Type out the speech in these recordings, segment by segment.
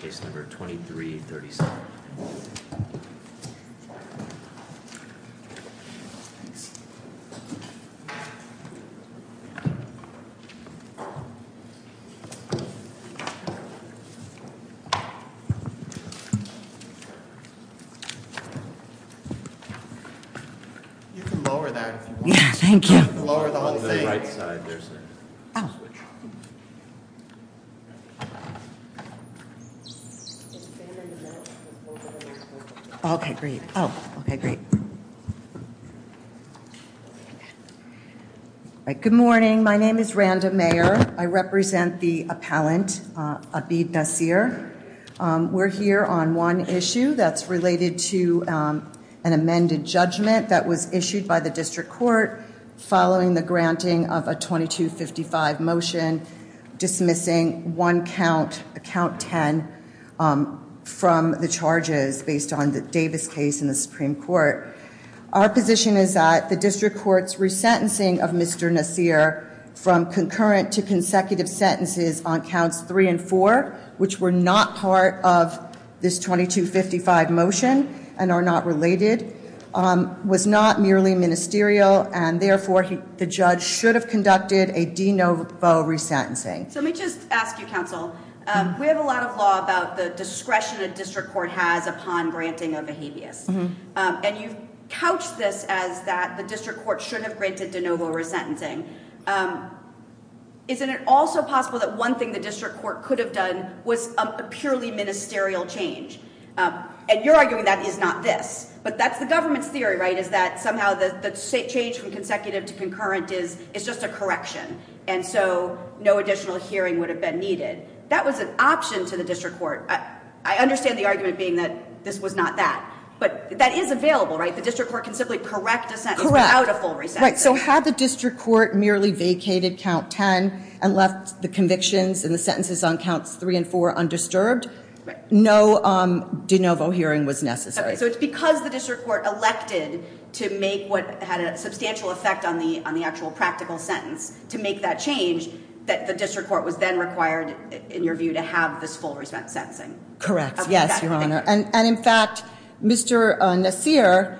case number 2337. You can lower that if you want. Thank you. Lower the whole thing. On the right side there's a switch. Okay, great. Okay, great. Good morning. My name is Randa Mayer. I represent the appellant, Abid Naseer. We're here on one issue that's related to an amended judgment that was issued by the 10 from the charges based on the Davis case in the Supreme Court. Our position is that the district court's resentencing of Mr. Naseer from concurrent to consecutive sentences on counts three and four, which were not part of this 2255 motion and are not related, was not merely ministerial, and therefore the judge should have conducted a de novo resentencing. Let me just ask you, counsel, we have a lot of law about the discretion a district court has upon granting of a habeas, and you've couched this as that the district court should have granted de novo resentencing. Isn't it also possible that one thing the district court could have done was a purely ministerial change? You're arguing that is not this, but that's the government's theory, right, is that somehow the change from consecutive to concurrent is just a correction. And so no additional hearing would have been needed. That was an option to the district court. I understand the argument being that this was not that, but that is available, right? The district court can simply correct a sentence without a full resentencing. Right. So had the district court merely vacated count 10 and left the convictions and the sentences on counts three and four undisturbed, no de novo hearing was necessary. Okay. So it's because the district court elected to make what had a substantial effect on the actual practical sentence to make that change that the district court was then required, in your view, to have this full resentencing. Correct. Yes, Your Honor. And in fact, Mr. Nassir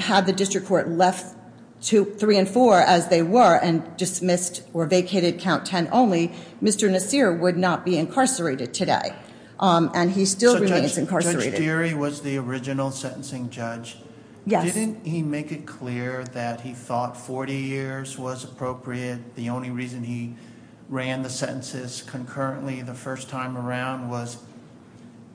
had the district court left three and four as they were and dismissed or vacated count 10 only, Mr. Nassir would not be incarcerated today. And he still remains incarcerated. So Judge Deary was the original sentencing judge. Yes. Didn't he make it clear that he thought 40 years was appropriate? The only reason he ran the sentences concurrently the first time around was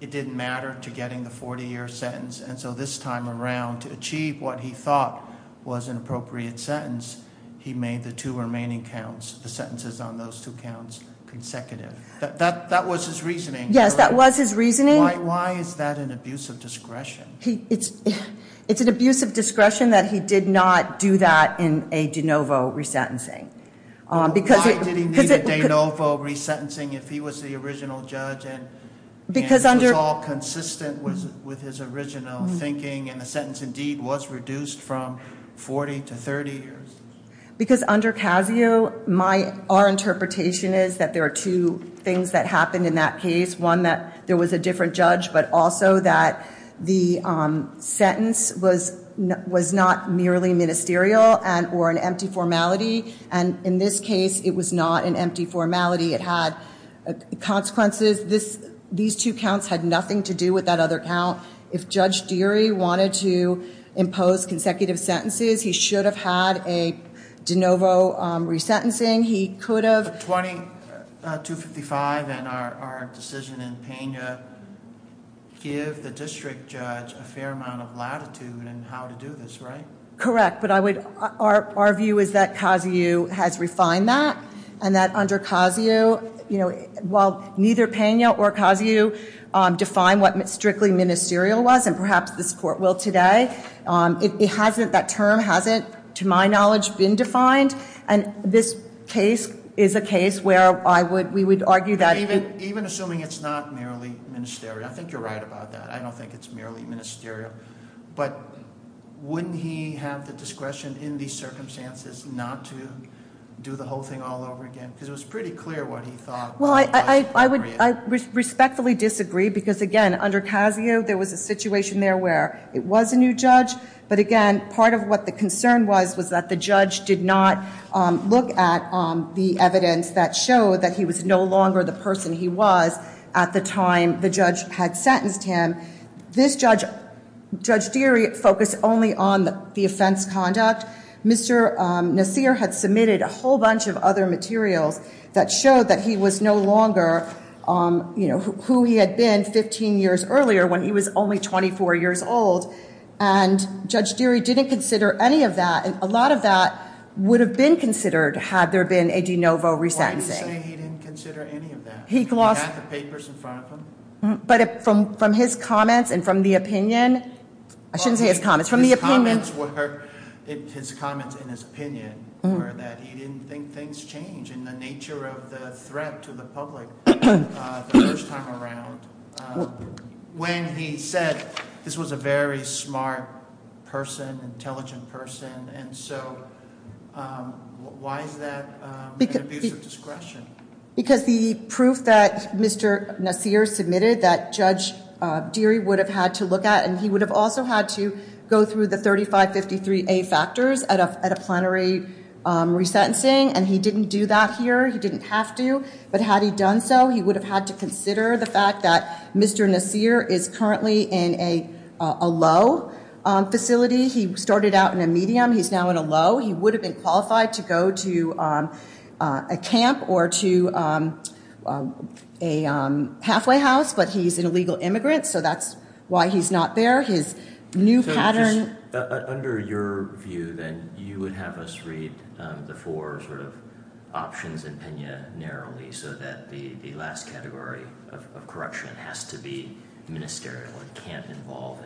it didn't matter to getting the 40-year sentence. And so this time around, to achieve what he thought was an appropriate sentence, he made the two remaining counts, the sentences on those two counts, consecutive. That was his reasoning. Yes, that was his reasoning. Why is that an abuse of discretion? It's an abuse of discretion that he did not do that in a de novo resentencing. Why did he need a de novo resentencing if he was the original judge and it was all consistent with his original thinking and the sentence indeed was reduced from 40 to 30 years? Because under CASIO, our interpretation is that there are two things that happened in that case, one that there was a different judge but also that the sentence was not merely ministerial or an empty formality. And in this case, it was not an empty formality. It had consequences. These two counts had nothing to do with that other count. If Judge Deary wanted to impose consecutive sentences, he should have had a de novo resentencing. He could have- 2255 and our decision in Pena give the district judge a fair amount of latitude in how to do this, right? Correct. But our view is that CASIO has refined that and that under CASIO, while neither Pena or CASIO defined what strictly ministerial was and perhaps this court will today, that term hasn't, to my knowledge, been defined. And this case is a case where we would argue that- Even assuming it's not merely ministerial, I think you're right about that. I don't think it's merely ministerial. But wouldn't he have the discretion in these circumstances not to do the whole thing all over again? Because it was pretty clear what he thought was appropriate. Well, I respectfully disagree because again, under CASIO, there was a situation there where it was a new judge, but again, part of what the concern was was that the judge did not look at the evidence that showed that he was no longer the person he was at the time the judge had sentenced him. This judge, Judge Deary, focused only on the offense conduct. Mr. Nasir had submitted a whole bunch of other materials that showed that he was no longer who he had been 15 years earlier when he was only 24 years old. And Judge Deary didn't consider any of that, and a lot of that would have been considered had there been a de novo resentencing. Why do you say he didn't consider any of that? He lost- He had the papers in front of him? But from his comments and from the opinion, I shouldn't say his comments, from the opinion- His comments in his opinion were that he didn't think things change in the nature of the threat to the public the first time around, when he said this was a very smart person, intelligent person, and so why is that an abuse of discretion? Because the proof that Mr. Nasir submitted that Judge Deary would have had to look at, and he would have also had to go through the 3553A factors at a plenary resentencing, and he didn't do that here, he didn't have to, but had he done so, he would have had to consider the fact that Mr. Nasir is currently in a low facility. He started out in a medium, he's now in a low. He would have been qualified to go to a camp or to a halfway house, but he's an illegal immigrant, so that's why he's not there. His new pattern- Under your view, then, you would have us read the four options in Pena narrowly, so that the last category of correction has to be ministerial and can't involve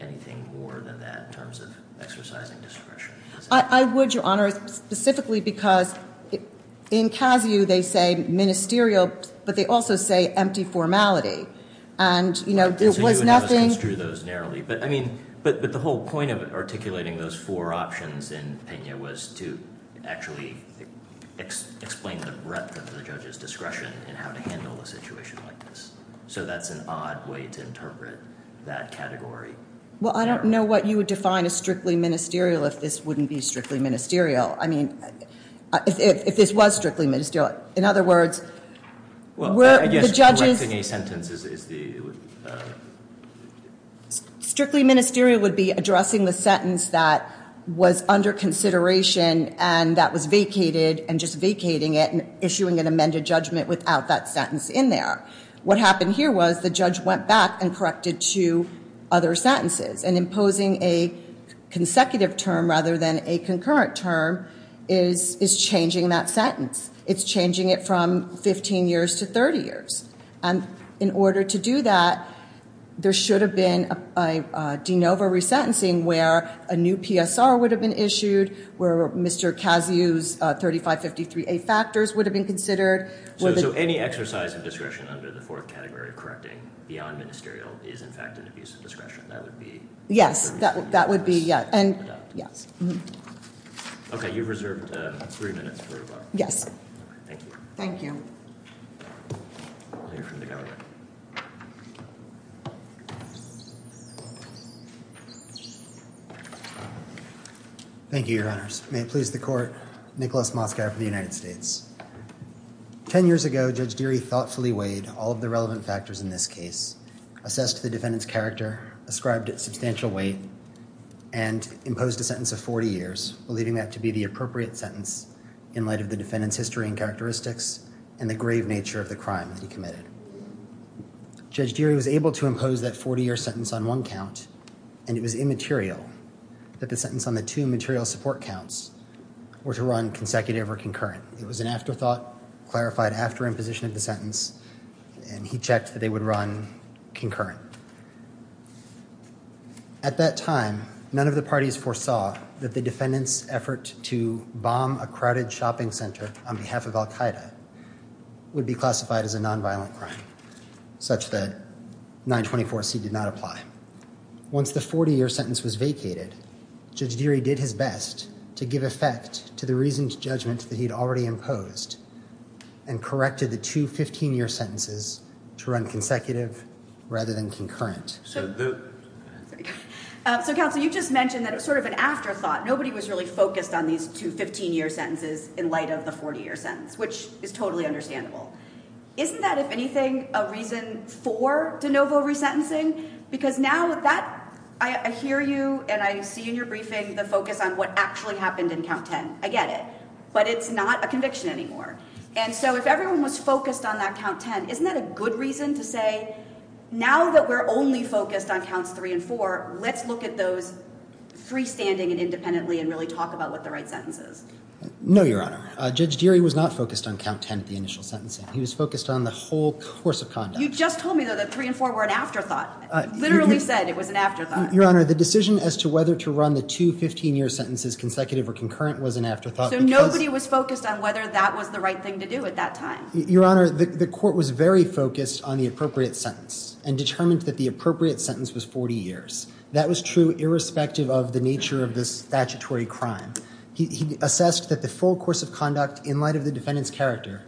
anything more than that, in terms of exercising discretion. I would, Your Honor, specifically because in CASIU they say ministerial, but they also say empty formality, and it was nothing- But the whole point of articulating those four options in Pena was to actually explain the breadth of the judge's discretion in how to handle a situation like this. So that's an odd way to interpret that category. Well, I don't know what you would define as strictly ministerial if this wouldn't be strictly ministerial. I mean, if this was strictly ministerial. In other words, were the judges- Correcting a sentence is the- Strictly ministerial would be addressing the sentence that was under consideration and that was vacated and just vacating it and issuing an amended judgment without that sentence in there. What happened here was the judge went back and corrected two other sentences, and imposing a consecutive term rather than a concurrent term is changing that sentence. It's changing it from 15 years to 30 years. And in order to do that, there should have been a de novo resentencing where a new PSR would have been issued, where Mr. CASIU's 3553A factors would have been considered. So any exercise of discretion under the fourth category of correcting beyond ministerial is, in fact, an abuse of discretion. That would be- Yes. That would be- Okay. You've reserved three minutes for rebuttal. Yes. Thank you. Thank you. We'll hear from the government. Thank you, Your Honors. May it please the court. Nicholas Moskow from the United States. Ten years ago, Judge Deary thoughtfully weighed all of the relevant factors in this case, assessed the defendant's character, ascribed it substantial weight, and imposed a sentence of 40 years, believing that to be the appropriate sentence in light of the defendant's history and characteristics and the grave nature of the crime that he committed. Judge Deary was able to impose that 40-year sentence on one count, and it was immaterial that the sentence on the two material support counts were to run consecutive or concurrent. It was an afterthought clarified after imposition of the sentence, and he checked that they would run concurrent. At that time, none of the parties foresaw that the defendant's effort to bomb a crowded shopping center on behalf of al-Qaeda would be classified as a nonviolent crime, such that 924C did not apply. Once the 40-year sentence was vacated, Judge Deary did his best to give effect to the reasoned judgment that he'd already imposed and corrected the two 15-year sentences to run consecutive rather than concurrent. So, Counsel, you just mentioned that it was sort of an afterthought. Nobody was really focused on these two 15-year sentences in light of the 40-year sentence, which is totally understandable. Isn't that, if anything, a reason for de novo resentencing? Because now that I hear you and I see in your briefing the focus on what actually happened in count 10. I get it. But it's not a conviction anymore. And so if everyone was focused on that count 10, isn't that a good reason to say, now that we're only focused on counts 3 and 4, let's look at those freestanding and independently and really talk about what the right sentence is? No, Your Honor. Judge Deary was not focused on count 10 at the initial sentencing. He was focused on the whole course of conduct. You just told me, though, that 3 and 4 were an afterthought. You literally said it was an afterthought. Your Honor, the decision as to whether to run the two 15-year sentences consecutive or concurrent was an afterthought because— So nobody was focused on whether that was the right thing to do at that time. Your Honor, the court was very focused on the appropriate sentence and determined that the appropriate sentence was 40 years. That was true irrespective of the nature of the statutory crime. He assessed that the full course of conduct in light of the defendant's character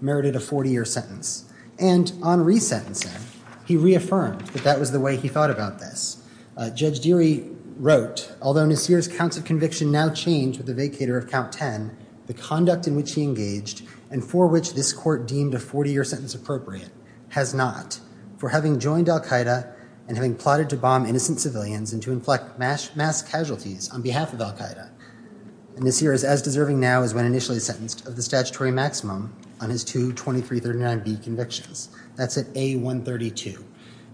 merited a 40-year sentence. And on resentencing, he reaffirmed that that was the way he thought about this. Judge Deary wrote, although Nasir's counts of conviction now change with the vacator of count 10, the conduct in which he engaged and for which this court deemed a 40-year sentence appropriate has not, for having joined al-Qaeda and having plotted to bomb innocent civilians and to inflict mass casualties on behalf of al-Qaeda. Nasir is as deserving now as when initially sentenced of the statutory maximum on his two 2339B convictions. That's at A132.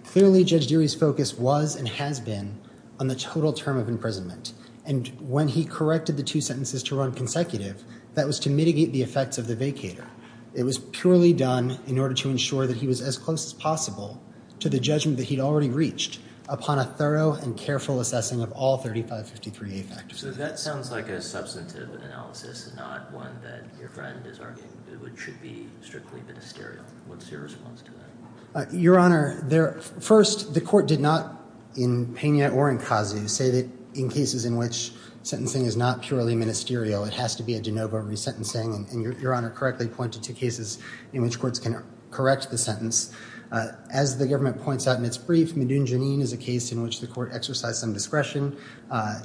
Clearly, Judge Deary's focus was and has been on the total term of imprisonment. And when he corrected the two sentences to run consecutive, that was to mitigate the effects of the vacator. It was purely done in order to ensure that he was as close as possible to the judgment that he'd already reached upon a thorough and careful assessing of all 3553A factors. So that sounds like a substantive analysis, not one that your friend is arguing, which should be strictly ministerial. What's your response to that? Your Honor, first, the court did not, in Pena or in Khazu, say that in cases in which sentencing is not purely ministerial, it has to be a de novo resentencing, and your Honor correctly pointed to cases in which courts can correct the sentence. As the government points out in its brief, Medun Janin is a case in which the court exercised some discretion.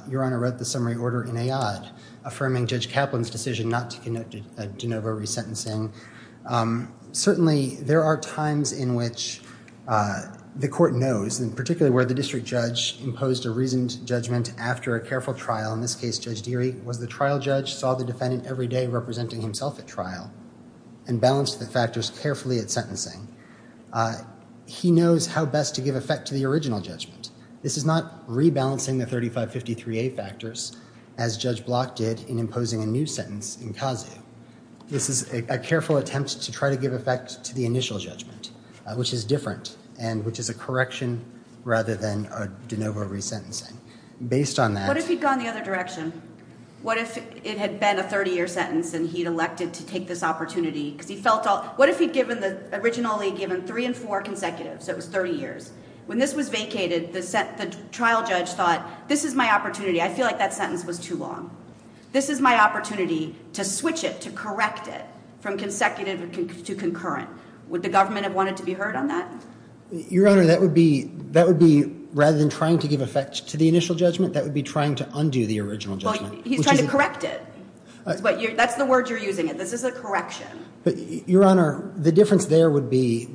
Your Honor wrote the summary order in Ayad, affirming Judge Kaplan's decision not to conduct a de novo resentencing. Certainly, there are times in which the court knows, and particularly where the district judge imposed a reasoned judgment after a careful trial, in this case, Judge Deary was the trial judge, saw the defendant every day representing himself at trial, and balanced the factors carefully at sentencing. He knows how best to give effect to the original judgment. This is not rebalancing the 3553A factors, as Judge Block did in imposing a new sentence in Khazu. This is a careful attempt to try to give effect to the initial judgment, which is different, and which is a correction rather than a de novo resentencing. Based on that... What if he'd gone the other direction? What if it had been a 30-year sentence, and he'd elected to take this opportunity? What if he'd originally given three and four consecutive, so it was 30 years? When this was vacated, the trial judge thought, this is my opportunity, I feel like that sentence was too long. This is my opportunity to switch it, to correct it, from consecutive to concurrent. Would the government have wanted to be heard on that? Your Honor, that would be, rather than trying to give effect to the initial judgment, that would be trying to undo the original judgment. Well, he's trying to correct it. That's the word you're using. This is a correction. Your Honor, the difference there would be,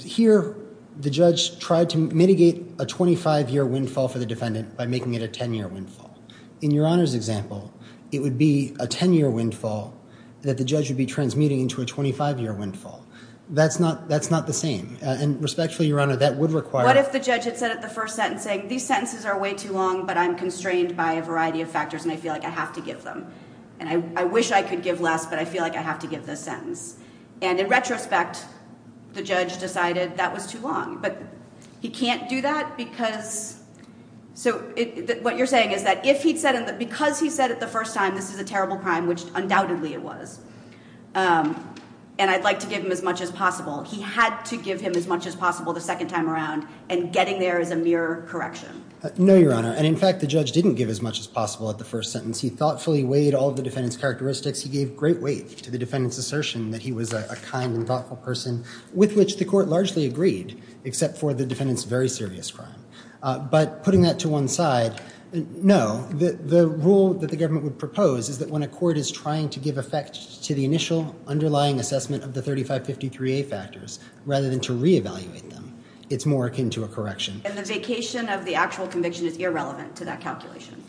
here, the judge tried to mitigate a 25-year windfall for the defendant by making it a 10-year windfall. In Your Honor's example, it would be a 10-year windfall that the judge would be transmuting into a 25-year windfall. That's not the same. Respectfully, Your Honor, that would require... What if the judge had said at the first sentencing, these sentences are way too long, but I'm constrained by a variety of factors, and I feel like I have to give them? I wish I could give less, but I feel like I have to give this sentence. In retrospect, the judge decided that was too long. He can't do that because... What you're saying is that because he said it the first time, this is a terrible crime, which undoubtedly it was, and I'd like to give him as much as possible. He had to give him as much as possible the second time around, and getting there is a mere correction. No, Your Honor. In fact, the judge didn't give as much as possible at the first sentence. He thoughtfully weighed all of the defendant's characteristics. He gave great weight to the defendant's assertion that he was a kind and thoughtful person, with which the court largely agreed, except for the defendant's very serious crime. But putting that to one side, no. The rule that the government would propose is that when a court is trying to give effect to the initial underlying assessment of the 3553A factors, rather than to reevaluate them, it's more akin to a correction. And the vacation of the actual conviction is irrelevant to that calculation?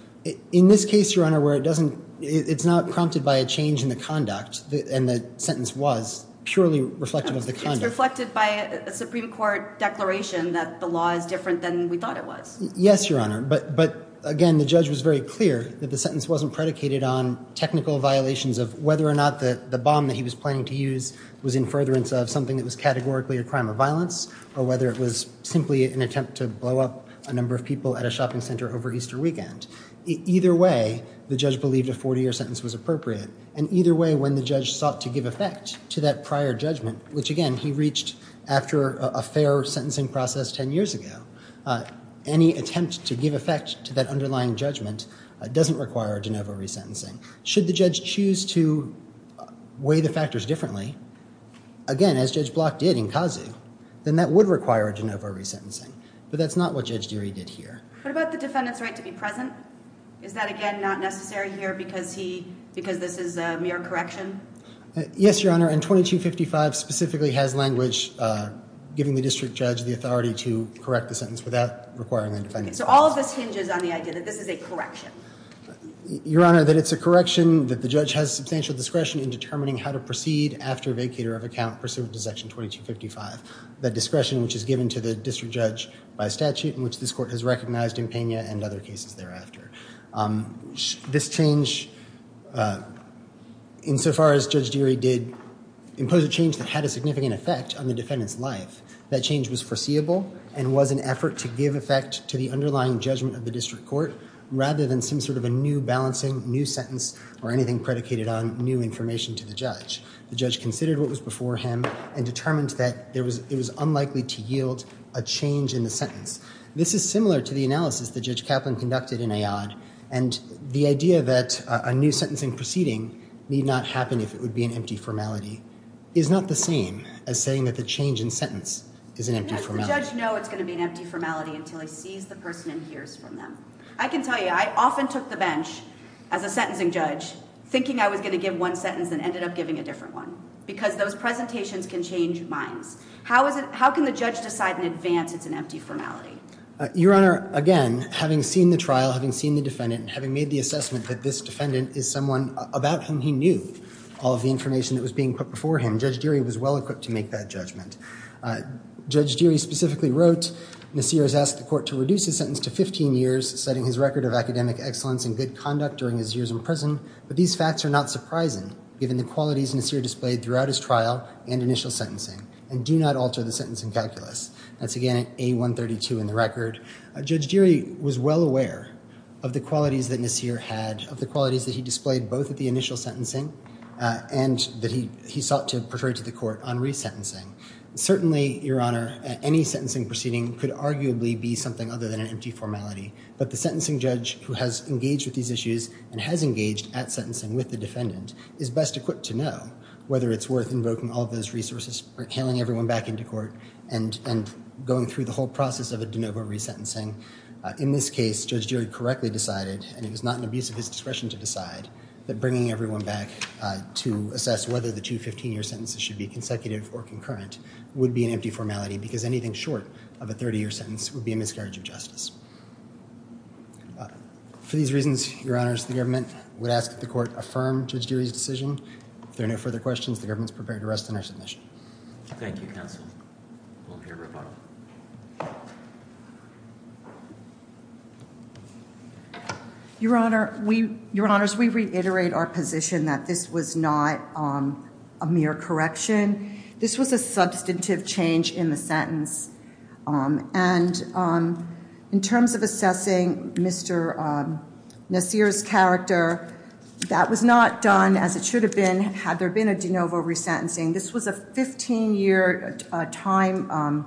In this case, Your Honor, where it doesn't... It's not prompted by a change in the conduct, and the sentence was purely reflective of the conduct. It's reflected by a Supreme Court declaration that the law is different than we thought it was. Yes, Your Honor. But, again, the judge was very clear that the sentence wasn't predicated on technical violations of whether or not the bomb that he was planning to use was in furtherance of something that was categorically a crime of violence, or whether it was simply an attempt to blow up a number of people at a shopping center over Easter weekend. Either way, the judge believed a 40-year sentence was appropriate. And either way, when the judge sought to give effect to that prior judgment, which, again, he reached after a fair sentencing process 10 years ago, any attempt to give effect to that underlying judgment doesn't require a de novo resentencing. Should the judge choose to weigh the factors differently, again, as Judge Block did in Kazoo, then that would require a de novo resentencing, but that's not what Judge Dury did here. What about the defendant's right to be present? Is that, again, not necessary here because this is a mere correction? Yes, Your Honor. And 2255 specifically has language giving the district judge the authority to correct the sentence without requiring the defendant's presence. So all of this hinges on the idea that this is a correction? Your Honor, that it's a correction, that the judge has substantial discretion in determining how to proceed after vacator of account pursuant to Section 2255. The discretion which is given to the district judge by statute, which this court has recognized in Pena and other cases thereafter. This change, insofar as Judge Dury did, imposed a change that had a significant effect on the defendant's life. That change was foreseeable and was an effort to give effect to the underlying judgment of the district court rather than some sort of a new balancing, new sentence, or anything predicated on new information to the judge. The judge considered what was before him and determined that it was unlikely to yield a change in the sentence. This is similar to the analysis that Judge Kaplan conducted in Ayad and the idea that a new sentencing proceeding need not happen if it would be an empty formality is not the same as saying that the change in sentence is an empty formality. How does the judge know it's going to be an empty formality until he sees the person and hears from them? I can tell you, I often took the bench as a sentencing judge thinking I was going to give one sentence and ended up giving a different one because those presentations can change minds. How can the judge decide in advance it's an empty formality? Your Honor, again, having seen the trial, having seen the defendant, and having made the assessment that this defendant is someone about whom he knew all of the information that was being put before him, Judge Dury was well equipped to make that judgment. Judge Dury specifically wrote, Nasir has asked the court to reduce his sentence to 15 years, setting his record of academic excellence and good conduct during his years in prison, but these facts are not surprising given the qualities Nasir displayed throughout his trial and initial sentencing, and do not alter the sentencing calculus. That's again, A132 in the record. Judge Dury was well aware of the qualities that Nasir had, of the qualities that he displayed both at the initial sentencing and that he sought to portray to the court on resentencing. Certainly, Your Honor, any sentencing proceeding could arguably be something other than an empty formality, but the sentencing judge who has engaged with these issues and has engaged at sentencing with the defendant is best equipped to know whether it's worth invoking all of those resources, hailing everyone back into court, and going through the whole process of a de novo resentencing. In this case, Judge Dury correctly decided, and it was not an abuse of his discretion to decide, that bringing everyone back to assess whether the two 15-year sentences should be consecutive or concurrent would be an empty formality because anything short of a 30-year sentence would be a miscarriage of justice. For these reasons, Your Honors, the government would ask that the court affirm Judge Dury's decision. If there are no further questions, the government is prepared to rest on our submission. Thank you, counsel. We'll hear rebuttal. Your Honor, we, Your Honors, we reiterate our position that this was not a mere correction. This was a substantive change in the sentence, and in terms of assessing Mr. Nasir's character, that was not done as it should have been had there been a de novo resentencing. This was a 15-year time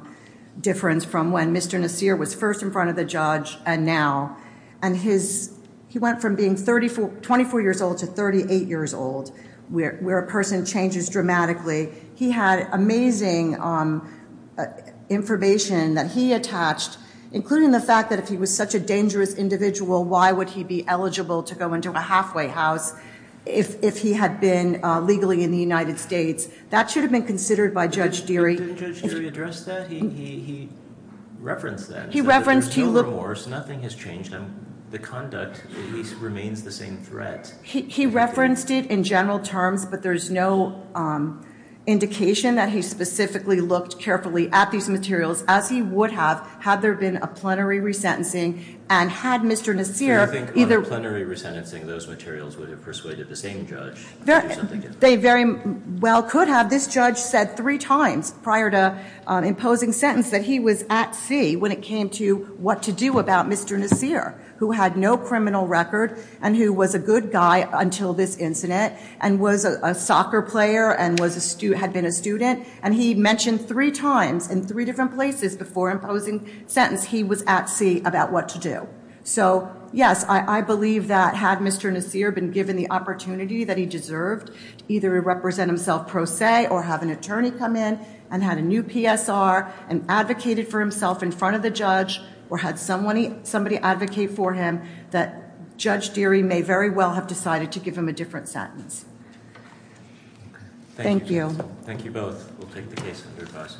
difference from when Mr. Nasir was first in front of the judge and now, and he went from being 24 years old to 38 years old, where a person changes dramatically. He had amazing information that he attached, including the fact that if he was such a dangerous individual, why would he be eligible to go into a halfway house if he had been legally in the United States? That should have been considered by Judge Dury. Didn't Judge Dury address that? He referenced that. He referenced he looked— There's no remorse. Nothing has changed. The conduct, at least, remains the same threat. He referenced it in general terms, but there's no indication that he specifically looked carefully at these materials as he would have had there been a plenary resentencing and had Mr. Nasir either— Do you think on a plenary resentencing, those materials would have persuaded the same judge to do something different? They very well could have. This judge said three times prior to imposing sentence that he was at sea when it came to what to do about Mr. Nasir, who had no criminal record and who was a good guy until this incident and was a soccer player and had been a student. And he mentioned three times in three different places before imposing sentence he was at sea about what to do. So yes, I believe that had Mr. Nasir been given the opportunity that he deserved, either to represent himself pro se or have an attorney come in and had a new PSR and advocated for himself in front of the judge or had somebody advocate for him, that Judge Dury may very well have decided to give him a different sentence. Thank you. Thank you both. We'll take the case under advice.